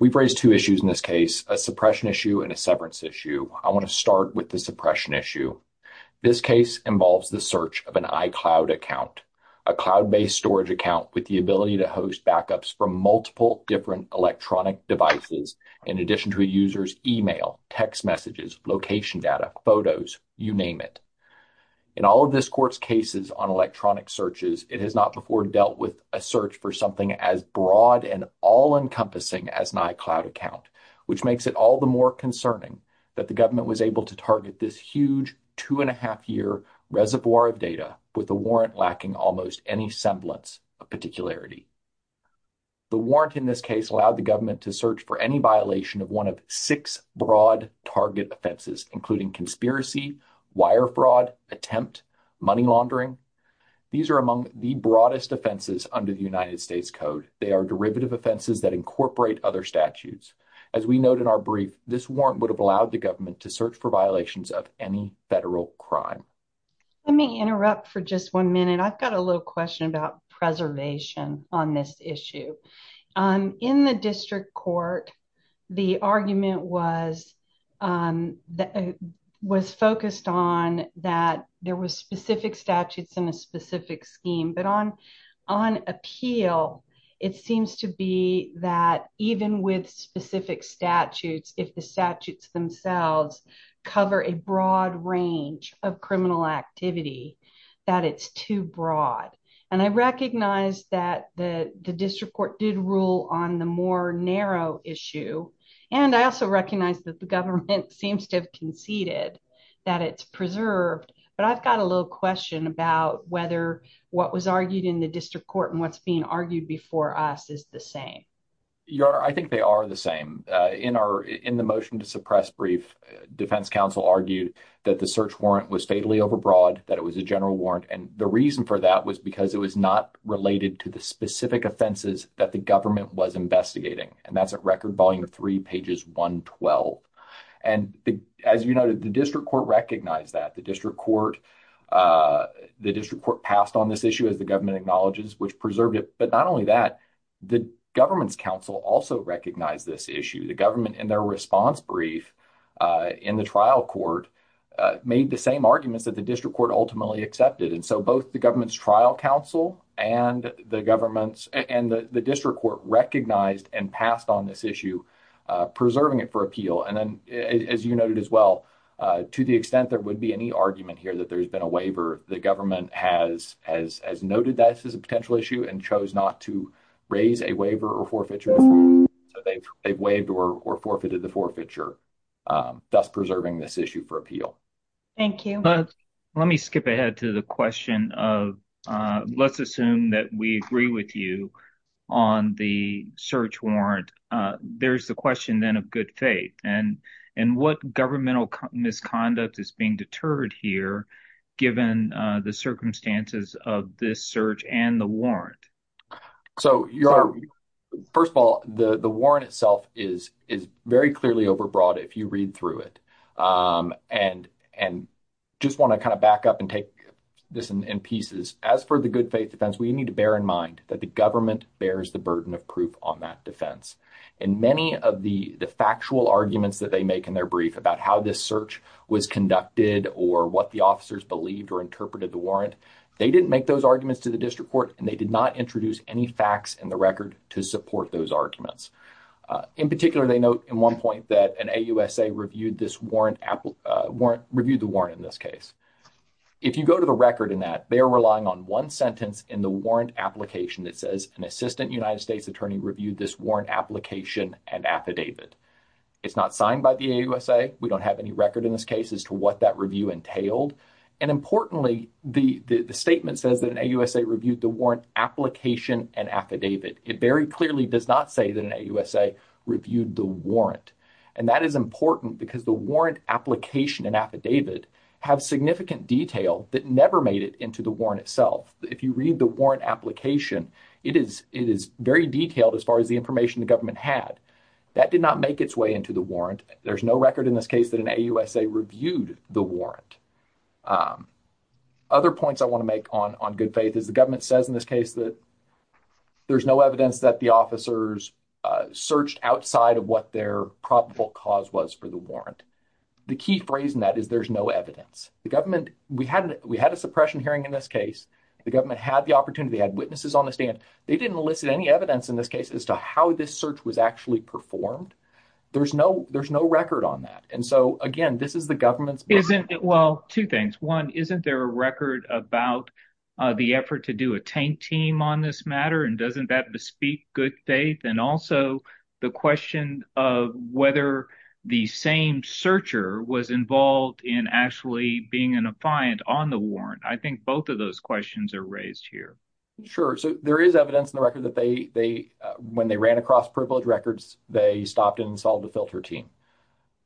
We've raised two issues in this case, a suppression issue and a severance issue. I want to start with the suppression issue. This case involves the search of an iCloud account, a cloud-based storage account with the ability to host backups from multiple different electronic devices, in addition to a user's email, text messages, location data, photos, you name it. In all of this court's cases on electronic searches, it has not before dealt with a search for something as broad and all-encompassing as an iCloud account, which makes it all the more concerning that the huge two-and-a-half-year reservoir of data with a warrant lacking almost any semblance of particularity. The warrant in this case allowed the government to search for any violation of one of six broad target offenses, including conspiracy, wire fraud, attempt, money laundering. These are among the broadest offenses under the United States Code. They are derivative offenses that incorporate other statutes. As we note in our brief, this warrant would have allowed the government to search for violations of any federal crime. Let me interrupt for just one minute. I've got a little question about preservation on this issue. In the district court, the argument was focused on that there were specific statutes in a specific scheme, but on appeal, it seems to be that even with specific statutes, if the statutes themselves cover a broad range of criminal activity, that it's too broad. I recognize that the district court did rule on the more narrow issue. I also recognize that the government seems to have conceded that it's preserved, but I've got a little question about whether what was argued in the district court and what's being before us is the same. I think they are the same. In the motion to suppress brief, defense counsel argued that the search warrant was fatally overbroad, that it was a general warrant, and the reason for that was because it was not related to the specific offenses that the government was investigating, and that's at record volume of three pages 112. And as you noted, the district court recognized that. The district court passed on this issue, as the government acknowledges, which preserved it. But not only that, the government's counsel also recognized this issue. The government, in their response brief in the trial court, made the same arguments that the district court ultimately accepted. And so, both the government's trial counsel and the district court recognized and passed on this issue, preserving it for appeal. And then, as you noted as well, to the extent there would be any argument here that there's been a waiver, the government has noted that this is a potential issue and chose not to raise a waiver or forfeiture, so they've waived or forfeited the forfeiture, thus preserving this issue for appeal. Thank you. Let me skip ahead to the question of, let's assume that we agree with you on the search warrant. There's the question then of good faith, and what governmental misconduct is being deterred here, given the circumstances of this search and the warrant? So, first of all, the warrant itself is very clearly overbroad if you read through it. And just want to kind of back up and take this in pieces. As for the good faith defense, we need to bear in mind that the government bears the burden of proof on that defense. And many of the factual arguments that they make in their brief about how this search was conducted or what the officers believed or interpreted the warrant, they didn't make those arguments to the district court and they did not introduce any facts in the record to support those arguments. In particular, they note in one point that an AUSA reviewed the warrant in this case. If you go to the record in that, they are relying on one sentence in the warrant application that says an assistant United States attorney reviewed this warrant application and affidavit. It's not signed by the AUSA. We don't have any record in this case as to what that review entailed. And importantly, the statement says that an AUSA reviewed the warrant application and affidavit. It very clearly does not say that an AUSA reviewed the warrant. And that is important because the warrant application and affidavit have significant detail that never made it into the warrant itself. If you read the warrant application, it is very detailed as far as the information the government had. That did not make its way into the warrant. There's no record in this case that an AUSA reviewed the warrant. Other points I want to make on good faith is the government says in this case that there's no evidence that the officers searched outside of what their probable cause was for the warrant. The key phrase in that is there's no evidence. The government, we had a suppression hearing in this case. The government had the opportunity, had witnesses on the stand. They didn't elicit any evidence in this case as to how this search was actually performed. There's no record on that. And so again, this is the government's... Well, two things. One, isn't there a record about the effort to do a tank team on this matter? And doesn't that bespeak good faith? And also the question of whether the same searcher was involved in actually being an appliant on the warrant. I think both of those questions are raised here. Sure. So there is evidence in the record that when they ran across privilege records, they stopped and installed a filter team.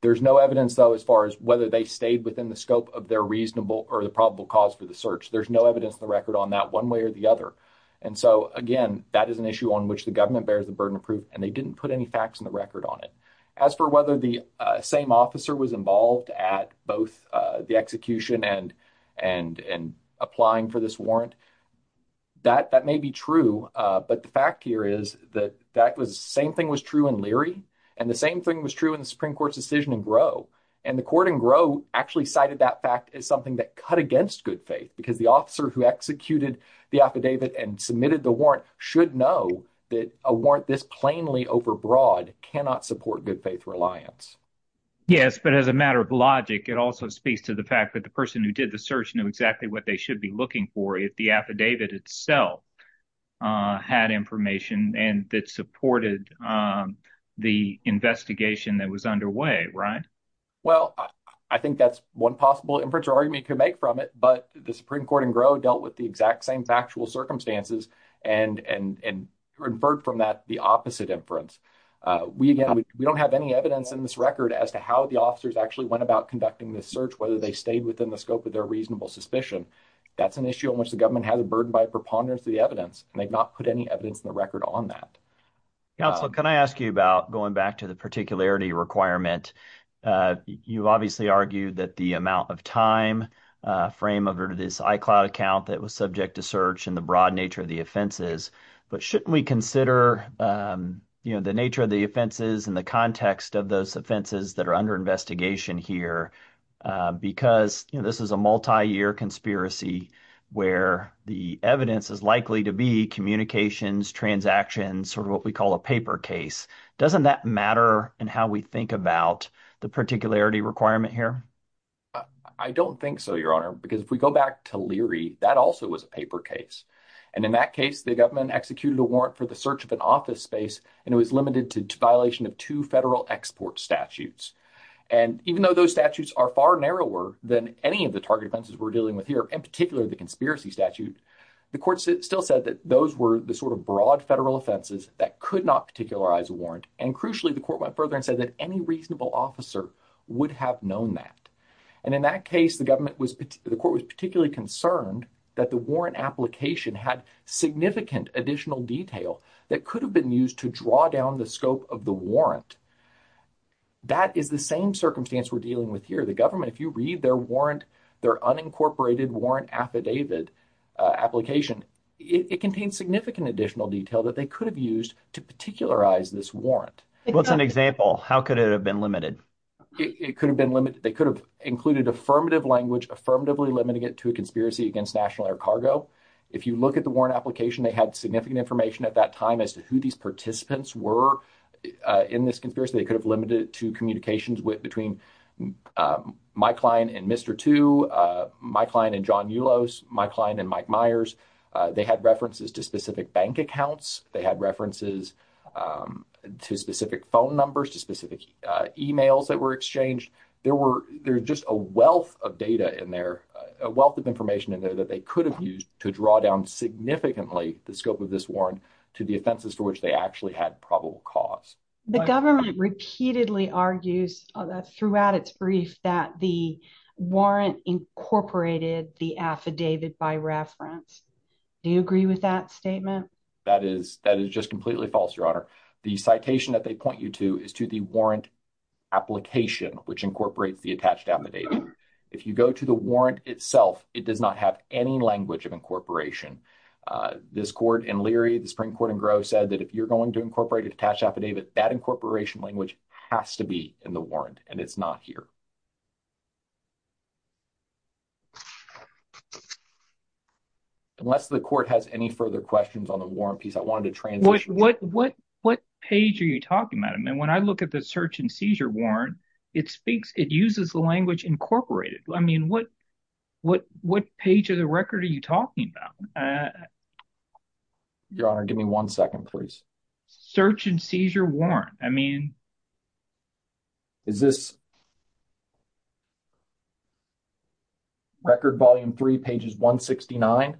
There's no evidence though as far as whether they stayed within the scope of their reasonable or the probable cause for the search. There's no evidence in the record on that one way or the other. And so again, that is an issue on which the government bears the burden of proof and they didn't put any facts in the record on it. As for whether the same officer was involved at both the execution and applying for this warrant, that may be true. But the fact here is that the same thing was true in Leary and the same thing was true in the Supreme Court's decision in Groh. And the court in Groh actually cited that fact as something that cut against good faith because the officer who executed the affidavit and submitted the warrant should know that a warrant this plainly overbroad cannot support good faith reliance. Yes, but as a matter of logic, it also speaks to the fact that the person who did the search knew exactly what they should be looking for if the affidavit itself had information and that supported the investigation that was underway, right? Well, I think that's one possible inference or argument you could make from it. But the Supreme Court in Groh dealt with the exact same factual circumstances and inferred from that the opposite inference. We don't have any evidence in this record as to how the officers actually went about conducting this search, whether they stayed within the scope of their reasonable suspicion. That's an issue in which the government has a burden by preponderance of the evidence and they've not put any evidence in the record on that. Counselor, can I ask you about going back to the particularity requirement? You obviously argued that the amount of time frame of this iCloud account that was subject to search and the broad nature of the offenses. But shouldn't we consider the nature of the offenses and the context of those offenses that are under investigation here? Because this is a multi-year conspiracy where the evidence is likely to be communications, transactions, or what we call a paper case. Doesn't that matter in how we think about the particularity requirement here? I don't think so, Your Honor, because if we go back to Leary, that also was a paper case. And in that case, the government executed a warrant for the search of an office space and it was limited to violation of two federal export statutes. And even though those statutes are far narrower than any of the target offenses we're dealing with here, in particular the conspiracy statute, the court still said that those were the sort of broad federal offenses that could not particularize a warrant. And crucially, the court went further and said that reasonable officer would have known that. And in that case, the court was particularly concerned that the warrant application had significant additional detail that could have been used to draw down the scope of the warrant. That is the same circumstance we're dealing with here. The government, if you read their unincorporated warrant affidavit application, it contains significant additional detail that they could have used to particularize this warrant. What's an example? How could it have been limited? It could have been limited. They could have included affirmative language, affirmatively limiting it to a conspiracy against National Air Cargo. If you look at the warrant application, they had significant information at that time as to who these participants were in this conspiracy. They could have limited it to communications between my client and Mr. Tu, my client and John Ulos, my client and Mike Myers. They had references to specific bank accounts. They had references to specific phone numbers, to specific emails that were exchanged. There were, there's just a wealth of data in there, a wealth of information in there that they could have used to draw down significantly the scope of this warrant to the offenses for which they actually had probable cause. The government repeatedly argues throughout its brief that the warrant incorporated the affidavit by reference. Do you agree with that statement? That is, that is just completely false, Your Honor. The citation that they point you to is to the warrant application, which incorporates the attached affidavit. If you go to the warrant itself, it does not have any language of incorporation. This court in Leary, the Supreme Court in Gros said that if you're going to incorporate an attached affidavit, that incorporation language has to be in the unless the court has any further questions on the warrant piece. I wanted to transition. What, what, what page are you talking about? I mean, when I look at the search and seizure warrant, it speaks, it uses the language incorporated. I mean, what, what, what page of the record are you talking about? Your Honor, give me one second, please. Search and seizure warrant. I mean, is this Record Volume 3, pages 169?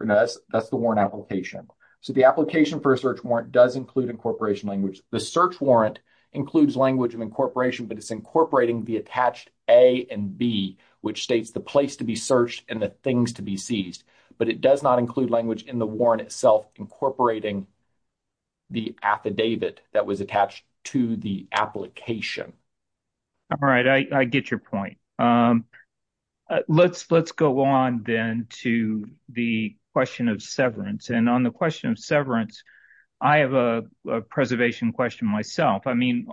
That's, that's the warrant application. So, the application for a search warrant does include incorporation language. The search warrant includes language of incorporation, but it's incorporating the attached A and B, which states the place to be searched and the things to be seized. But it does not include language in the warrant itself, incorporating the affidavit that was attached to the application. All right. I, I get your point. Let's, let's go on then to the question of severance. And on the question of severance, I have a preservation question myself. I mean,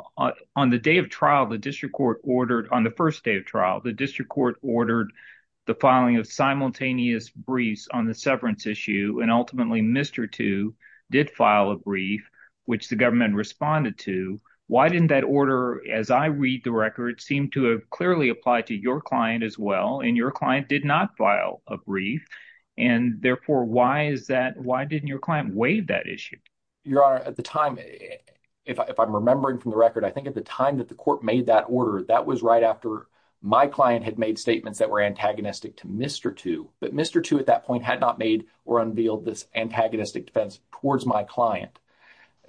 on the day of trial, the district court ordered, on the first day of trial, the district court ordered the filing of simultaneous briefs on the severance issue, and ultimately, Mr. Tu did file a brief, which the government responded to. Why didn't that order, as I read the record, seem to have clearly applied to your client as well, and your client did not file a brief? And therefore, why is that, why didn't your client waive that issue? Your Honor, at the time, if I'm remembering from the record, I think at the time that the court made that order, that was right after my client had made statements that were antagonistic to Mr. Tu. But Mr. Tu at that point had not made or unveiled this antagonistic defense towards my client.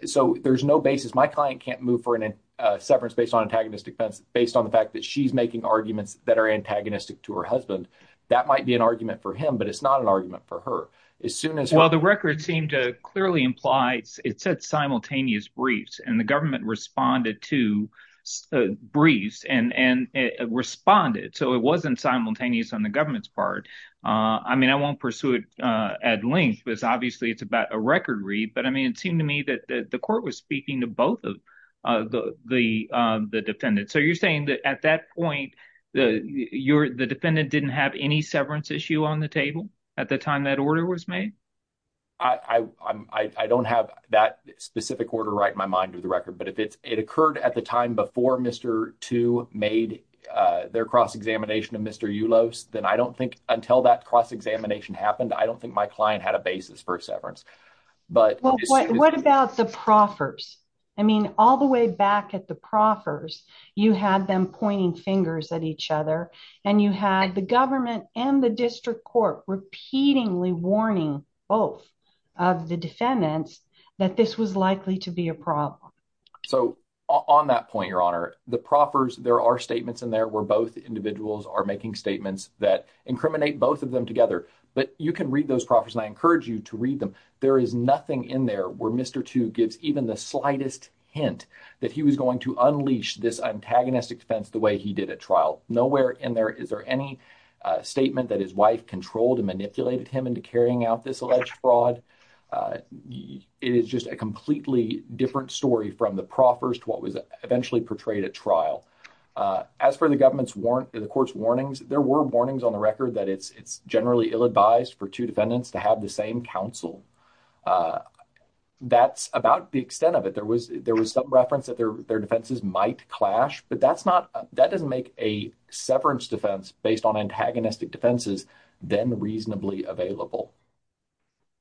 So there's no basis. My client can't move for a severance based on antagonistic defense based on the fact that she's making arguments that are antagonistic to her husband. That might be an argument for him, but it's not an argument for her. As soon as... Well, the record seemed to clearly imply it said simultaneous briefs, and the government responded to briefs and responded. So it wasn't simultaneous on the government's part. I mean, I won't pursue it at length because obviously it's about a record read. But I mean, it seemed to me that the court was speaking to both of the defendants. So you're saying that at that point, the defendant didn't have any severance issue on the table at the time that order was made? I don't have that specific order right in my mind of the record. But if it occurred at the time before Mr. Tu made their cross-examination of Mr. Ulos, then I don't think until that cross-examination happened, I don't think my client had a basis for a severance. But... What about the proffers? I mean, all the way back at the proffers, you had them pointing fingers at each other, and you had the government and the district court repeatedly warning both of the defendants that this was likely to be a problem. So on that point, Your Honor, the proffers, there are statements in there where both individuals are making statements that incriminate both of them together. But you can read those proffers, and I encourage you to read them. There is nothing in there where Mr. Tu gives even the slightest hint that he was going to unleash this antagonistic defense the way he did at trial. Nowhere in there is there any statement that his wife controlled and manipulated him into carrying out this alleged fraud. It is just a completely different story from the proffers to what was eventually portrayed at trial. As for the court's warnings, there were warnings on the record that it's generally ill advised for two defendants to have the same counsel. That's about the extent of it. There was some reference that their defenses might clash, but that doesn't make a severance defense based on antagonistic defenses then reasonably available.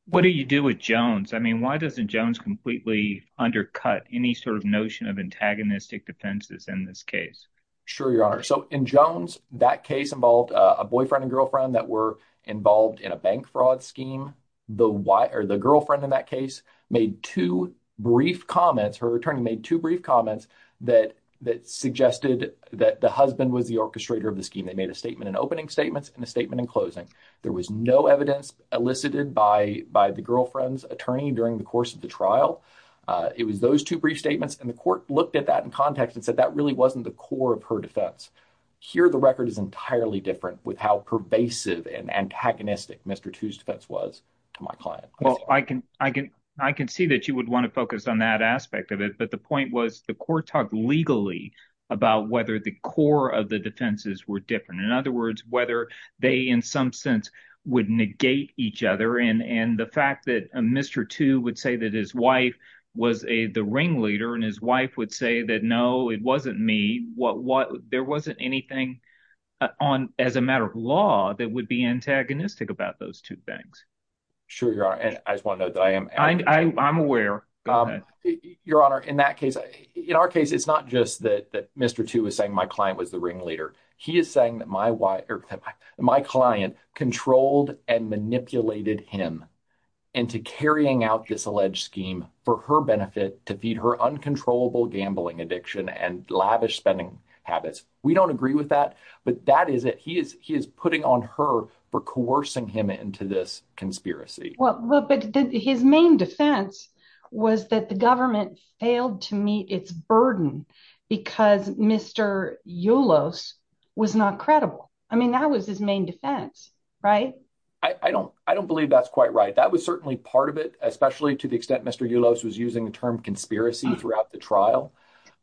What do you do with Jones? I mean, why doesn't Jones completely undercut any sort of notion of antagonistic defenses in this case? Sure, Your Honor. So in Jones, that case involved a boyfriend and girlfriend that were involved in a bank fraud scheme. The girlfriend in that case made two brief comments, her attorney made two brief comments that suggested that the husband was the orchestrator of the scheme. They made a statement in opening statements and a statement in closing. There was no evidence elicited by the girlfriend's attorney during the course of the trial. It was those two brief statements, and the court looked at that in context and said that really wasn't the core of her defense. Here, the record is entirely different with how pervasive and antagonistic Mr. Tu's defense was to my client. Well, I can see that you would want to focus on that aspect of it, but the point was the court talked legally about whether the core of the defenses were different. In other words, whether they in some sense would negate each other, and the fact that Mr. Tu would say that his wife was the ringleader and his wife would say that, no, it wasn't me, there wasn't anything as a matter of law that would be antagonistic about those two things. Sure, Your Honor, and I just want to note that I am aware. Your Honor, in our case, it's not just that Mr. Tu was saying my client was the ringleader. He is saying that my client controlled and manipulated him into carrying out this alleged scheme for her benefit to feed her uncontrollable gambling addiction and lavish spending habits. We don't agree with that, but that is it. He is putting on her for coercing him into this conspiracy. Well, but his main defense was that the was not credible. I mean, that was his main defense, right? I don't believe that's quite right. That was certainly part of it, especially to the extent Mr. Yulos was using the term conspiracy throughout the trial,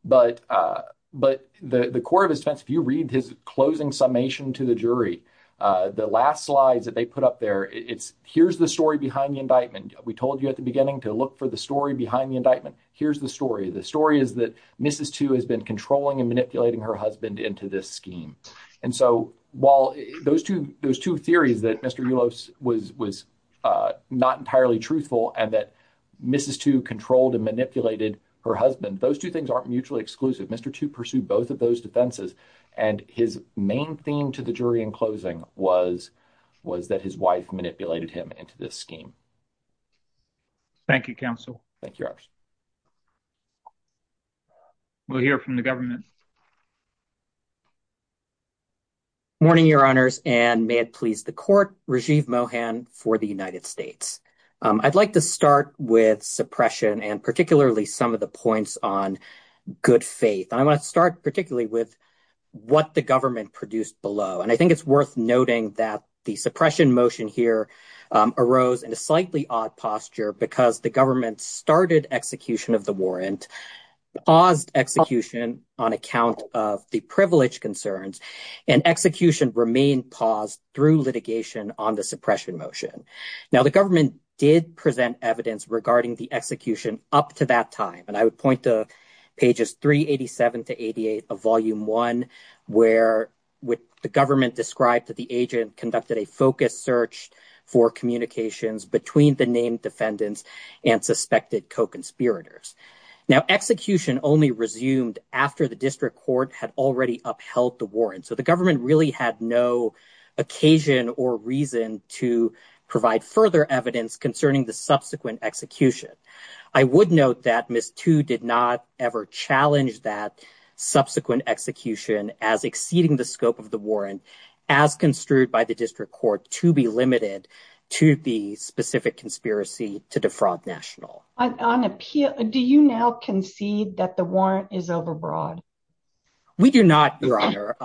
but the core of his defense, if you read his closing summation to the jury, the last slides that they put up there, it's here's the story behind the indictment. We told you at the beginning to look for the story behind the indictment. Here's the story. The story is that Mrs. Tu has been controlling and manipulating her husband into this scheme. And so while those two theories that Mr. Yulos was not entirely truthful and that Mrs. Tu controlled and manipulated her husband, those two things aren't mutually exclusive. Mr. Tu pursued both of those defenses, and his main theme to the jury in closing was that his wife manipulated him into this scheme. Thank you, counsel. Thank you. We'll hear from the government. Morning, your honors, and may it please the court. Rajiv Mohan for the United States. I'd like to start with suppression and particularly some of the points on good faith. I want to start particularly with what the government produced below, and I think it's worth noting that the suppression motion here arose in a slightly odd posture because the government started execution of the warrant, paused execution on account of the privilege concerns, and execution remained paused through litigation on the suppression motion. Now the government did present evidence regarding the execution up to that time, and I would point to pages 387 to 88 of volume one, where the government described that the agent conducted a focused search for communications between the named defendants and suspected co-conspirators. Now execution only resumed after the district court had already upheld the warrant, so the government really had no occasion or reason to provide further evidence concerning the subsequent execution. I would note that Ms. Tu did not ever challenge that subsequent execution as exceeding the scope of the warrant as construed by the district court to be limited to the specific conspiracy to defraud national. Do you now concede that the warrant is overbroad? We do not, your honor.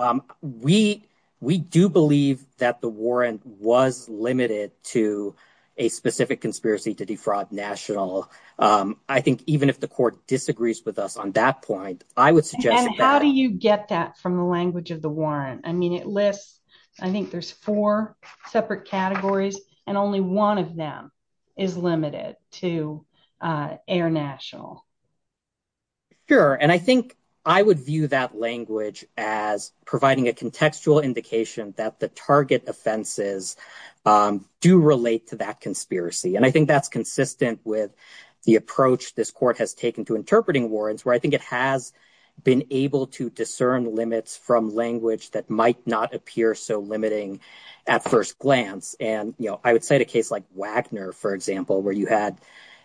We do believe that the warrant was limited to a specific conspiracy to defraud national. I think even if the court disagrees with us on that point, I would suggest And how do you get that from the language of the warrant? I mean it lists, I think there's four separate categories, and only one of them is limited to air national. Sure, and I think I would view that language as providing a contextual indication that the target offenses do relate to that conspiracy, and I think that's consistent with the approach this court has taken to interpreting warrants, where I think it has been able to discern limits from language that might not appear so limiting at first glance. And you know, I would cite a case like Wagner, for example, where you had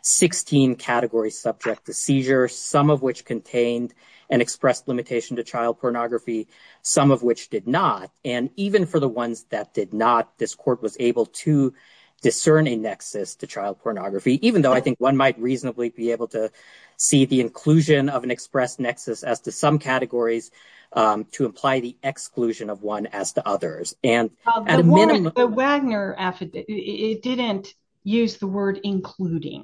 16 categories subject to seizure, some of which contained and expressed limitation to child pornography, some of which did not. And even for the ones that did not, this court was able to discern a nexus to child pornography, even though I think one might reasonably be able to see the inclusion of an expressed nexus as to some categories to imply the exclusion of one as to others. And at a minimum, the Wagner affidavit, it didn't use the word including,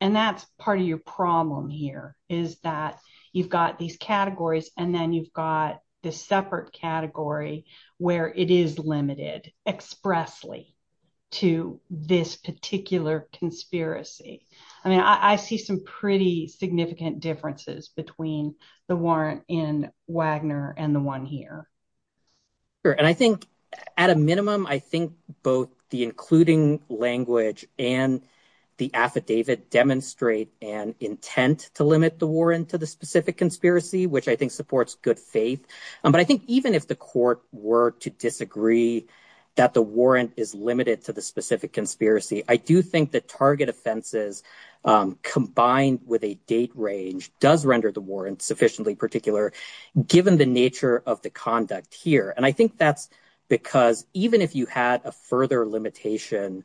and that's part of your problem here, is that you've got these categories and then you've got this separate category where it is limited expressly to this particular conspiracy. I mean, I see some pretty significant differences between the warrant in Wagner and the one here. Sure, and I think at a minimum, I think both the including language and the affidavit demonstrate an intent to limit the warrant to the specific conspiracy, which I think supports good faith. But I think even if the court were to disagree that the warrant is limited to the specific conspiracy, I do think the target offenses combined with a date range does render the warrant sufficiently particular, given the nature of the conduct here. And I think that's because even if you had a further limitation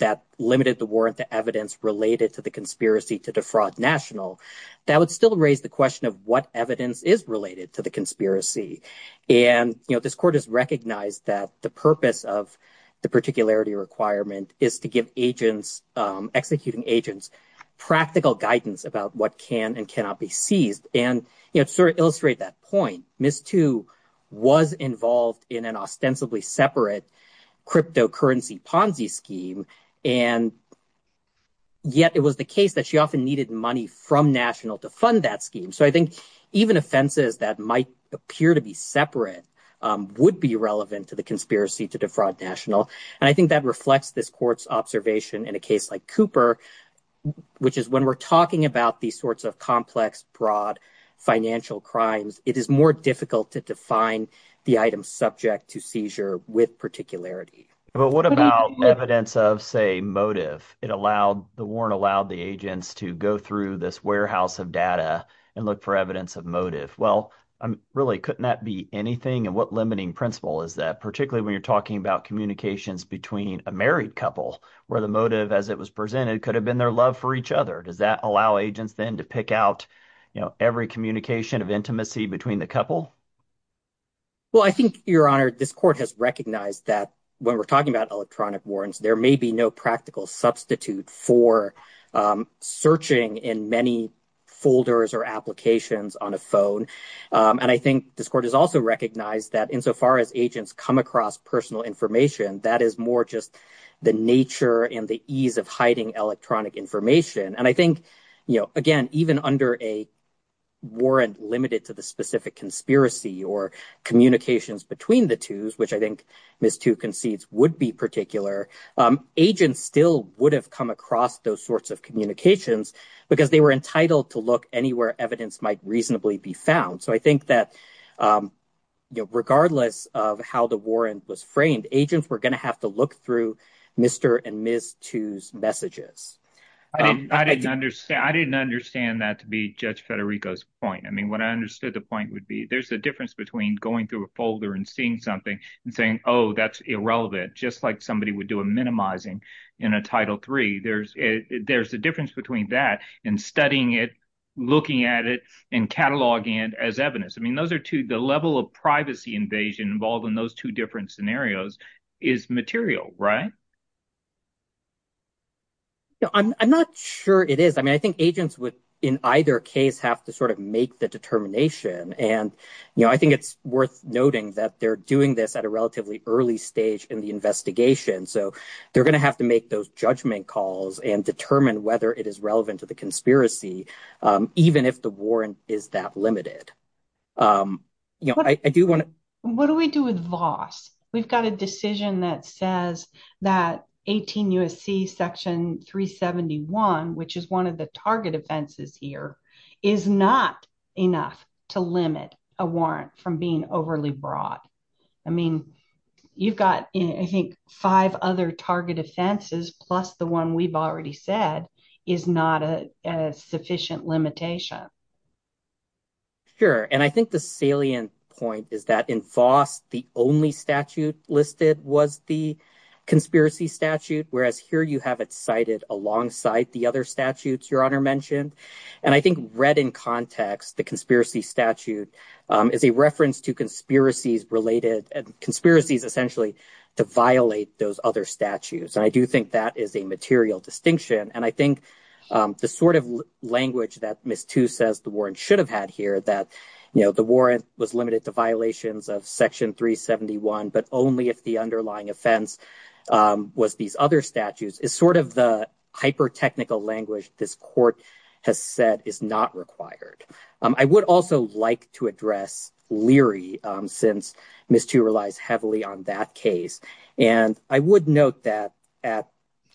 that limited the warrant to evidence related to the conspiracy to defraud National, that would still raise the question of what evidence is related to the conspiracy. And, you know, this court has recognized that the purpose of the particularity requirement is to give agents, executing agents, practical guidance about what can and cannot be seized. And, you know, to sort of illustrate that point, Ms. Tu was involved in an ostensibly separate cryptocurrency Ponzi scheme, and yet it was the case that she often needed money from National to fund that scheme. So I think even offenses that might appear to be separate would be relevant to conspiracy to defraud National. And I think that reflects this court's observation in a case like Cooper, which is when we're talking about these sorts of complex, broad financial crimes, it is more difficult to define the item subject to seizure with particularity. But what about evidence of, say, motive? The warrant allowed the agents to go through this warehouse of data and look for evidence of motive. Well, really, couldn't that be anything? And what limiting principle is that when you're talking about communications between a married couple where the motive, as it was presented, could have been their love for each other? Does that allow agents then to pick out, you know, every communication of intimacy between the couple? Well, I think, Your Honor, this court has recognized that when we're talking about electronic warrants, there may be no practical substitute for searching in many folders or applications on a phone. And I think this court has also recognized that insofar as agents come across personal information, that is more just the nature and the ease of hiding electronic information. And I think, you know, again, even under a warrant limited to the specific conspiracy or communications between the twos, which I think Ms. Tu concedes would be particular, agents still would have come across those sorts of communications because they were entitled to look anywhere evidence might reasonably be found. So I think that, you know, regardless of how the warrant was framed, agents were going to have to look through Mr. and Ms. Tu's messages. I didn't understand that to be Judge Federico's point. I mean, what I understood the point would be there's a difference between going through a folder and seeing something and saying, oh, that's irrelevant, just like somebody would do a minimizing in a Title III. There's a difference between that and studying it, looking at it and cataloging it as evidence. I mean, those are two, the level of privacy invasion involved in those two different scenarios is material, right? I'm not sure it is. I mean, I think agents would in either case have to sort of make the determination. And, you know, I think it's worth noting that they're doing this at a relatively early stage in the investigation. So they're going to have to make those judgment calls and determine whether it is relevant to the conspiracy, even if the warrant is that limited. You know, I do want to. What do we do with Voss? We've got a decision that says that 18 U.S.C. Section 371, which is one of the target offenses here, is not enough to limit a warrant from being overly broad. I mean, you've got, I think, five other target offenses plus the one we've said is not a sufficient limitation. Sure. And I think the salient point is that in Voss, the only statute listed was the conspiracy statute, whereas here you have it cited alongside the other statutes Your Honor mentioned. And I think read in context, the conspiracy statute is a reference to conspiracies related conspiracies essentially to violate those other statutes. And I do think that is a material distinction. And I think the sort of language that Ms. Tu says the warrant should have had here that, you know, the warrant was limited to violations of Section 371, but only if the underlying offense was these other statutes is sort of the hyper technical language this court has said is not required. I would also like to address Leary since Ms. Tu relies heavily on that case. And I would note that at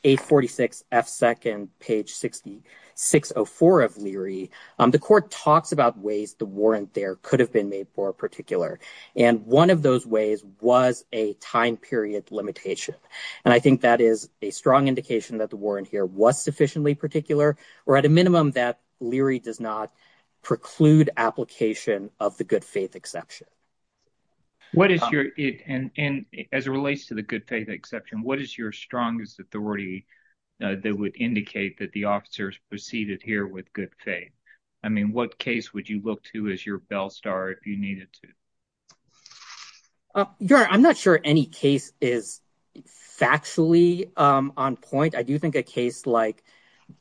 846 F. 2nd, page 604 of Leary, the court talks about ways the warrant there could have been made more particular. And one of those ways was a time period limitation. And I think that is a strong indication that the warrant here was sufficiently particular or at a minimum that Leary does not preclude application of the good faith exception. What is your and as it relates to the good faith exception, what is your strongest authority that would indicate that the officers proceeded here with good faith? I mean, what case would you look to as your bell star if you needed to? Your Honor, I'm not sure any case is factually on point. I do think a case like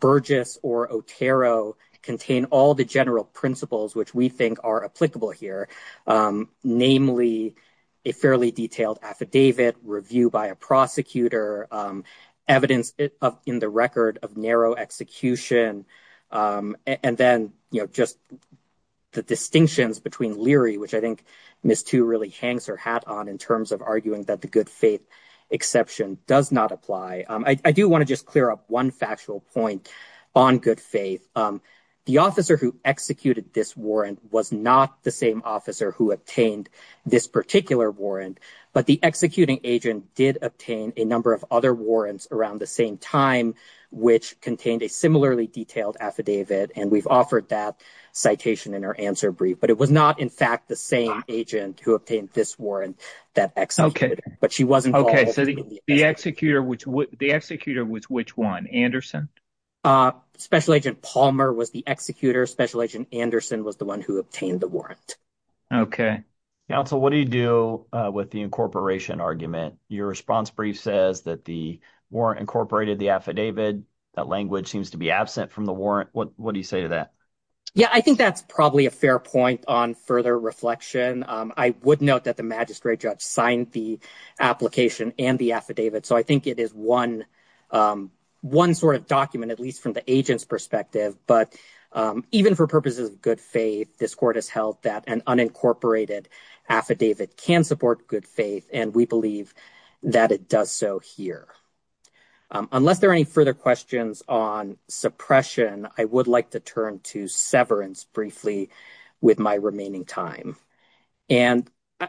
Burgess or Otero contain all the general principles which we think are applicable here. Namely, a fairly detailed affidavit review by a prosecutor, evidence in the record of narrow execution. And then, you know, just the distinctions between Leary, which I think Ms. Tu really hangs her hat on in terms of arguing that the good faith exception does not apply. I do want to just clear up one factual point on good faith. The officer who executed this warrant was not the same officer who obtained this particular warrant, but the executing agent did obtain a number of other warrants around the same time, which contained a similarly detailed affidavit. And we've offered that citation in our answer brief, but it was not, in fact, the same agent who obtained this warrant that executed, but she wasn't. Okay, so the executor was which one? Anderson? Special Agent Palmer was the executor. Special Agent Anderson was the one who obtained the warrant. Okay. Counsel, what do you do with the incorporation argument? Your response brief says that the warrant incorporated the affidavit. That language seems to be absent from the warrant. What do you say to that? Yeah, I think that's probably a fair point on further reflection. I would note that the magistrate judge signed the application and the affidavit, so I think it is one sort of document, at least from the agent's perspective. But even for purposes of good faith, this court has held that an unincorporated affidavit can support good faith, and we believe that it does so here. Unless there are any further questions on suppression, I would like to turn to severance briefly with my remaining time, and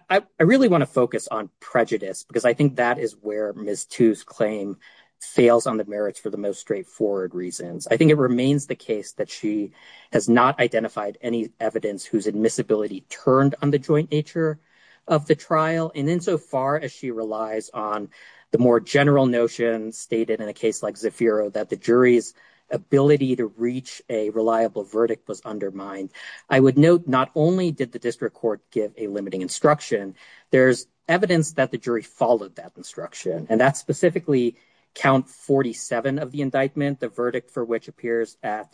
I really want to focus on prejudice because I think that is where Ms. Tu's claim fails on the merits for the most straightforward reasons. I think it remains the case that she has not identified any evidence whose admissibility turned on the joint nature of the trial, and insofar as she relies on the more general notion stated in a case like that, the jury's ability to reach a reliable verdict was undermined. I would note not only did the district court give a limiting instruction, there's evidence that the jury followed that instruction, and that's specifically count 47 of the indictment, the verdict for which appears at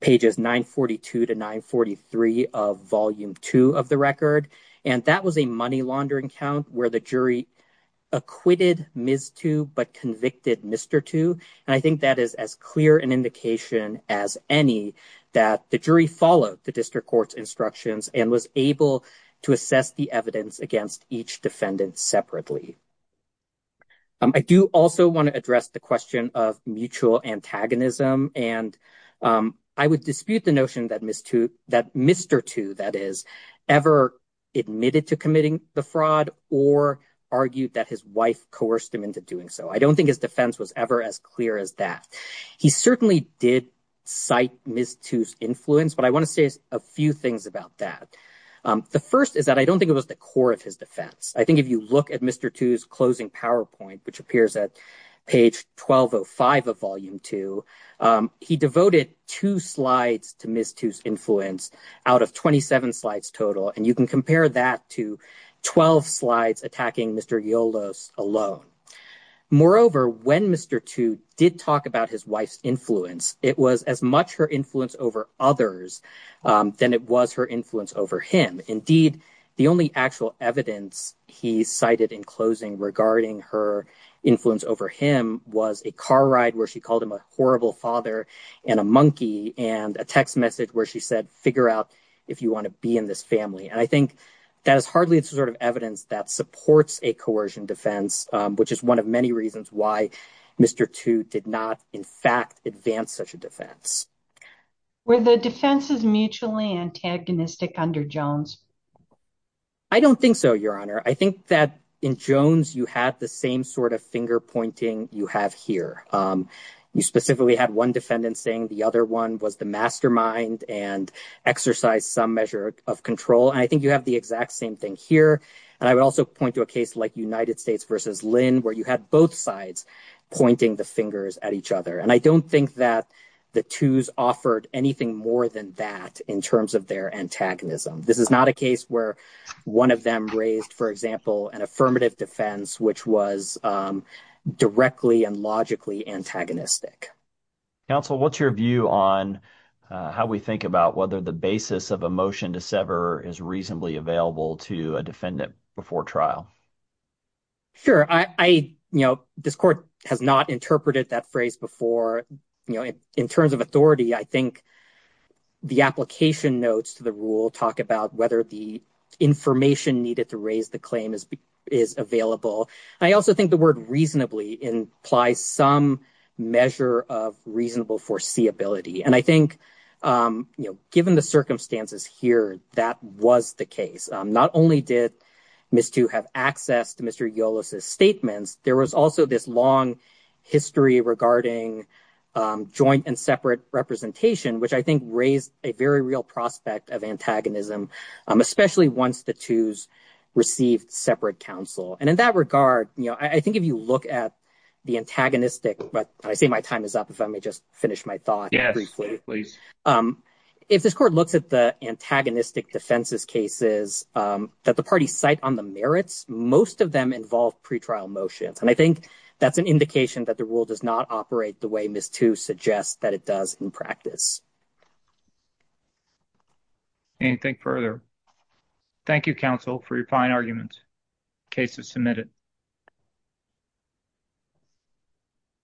pages 942 to 943 of volume 2 of the record, and that was a money laundering count where the jury acquitted Ms. Tu but convicted Mr. Tu, and I think that is as clear an indication as any that the jury followed the district court's instructions and was able to assess the evidence against each defendant separately. I do also want to address the question of mutual antagonism, and I would dispute the notion that Mr. Tu, that is, ever admitted to committing the fraud or argued that his wife coerced him into doing so. I don't think his defense was ever as clear as that. He certainly did cite Ms. Tu's influence, but I want to say a few things about that. The first is that I don't think it was the core of his defense. I think if you look at Mr. Tu's closing PowerPoint, which appears at page 1205 of volume 2, he devoted two slides to Ms. Tu's alone. Moreover, when Mr. Tu did talk about his wife's influence, it was as much her influence over others than it was her influence over him. Indeed, the only actual evidence he cited in closing regarding her influence over him was a car ride where she called him a horrible father and a monkey and a text message where she said, figure out if you want to be in this family, and that is hardly the sort of evidence that supports a coercion defense, which is one of many reasons why Mr. Tu did not, in fact, advance such a defense. Were the defenses mutually antagonistic under Jones? I don't think so, Your Honor. I think that in Jones, you had the same sort of finger pointing you have here. You specifically had one defendant saying the other one was the and exercise some measure of control. And I think you have the exact same thing here. And I would also point to a case like United States versus Lynn, where you had both sides pointing the fingers at each other. And I don't think that the Tu's offered anything more than that in terms of their antagonism. This is not a case where one of them raised, for example, an affirmative defense, which was directly and logically antagonistic. Counsel, what's your view on how we think about whether the basis of a motion to sever is reasonably available to a defendant before trial? Sure. I, you know, this court has not interpreted that phrase before. You know, in terms of authority, I think the application notes to the rule talk about whether the information needed to raise the claim is available. I also think the word reasonably implies some measure of reasonable foreseeability. And I think, you know, given the circumstances here, that was the case. Not only did Ms. Tu have access to Mr. Yolis's statements, there was also this long history regarding joint and separate representation, which I think raised a very real prospect of antagonism, especially once the Tu's received separate counsel. And in that regard, you know, I think if you look at the antagonistic, but I say my time is up, if I may just finish my thought briefly. If this court looks at the antagonistic defenses cases that the parties cite on the merits, most of them involve pretrial motions. And I think that's an indication that the rule does not operate the way Ms. Tu suggests that it does in practice. Anything further? Thank you, counsel, for your fine argument. Case is submitted.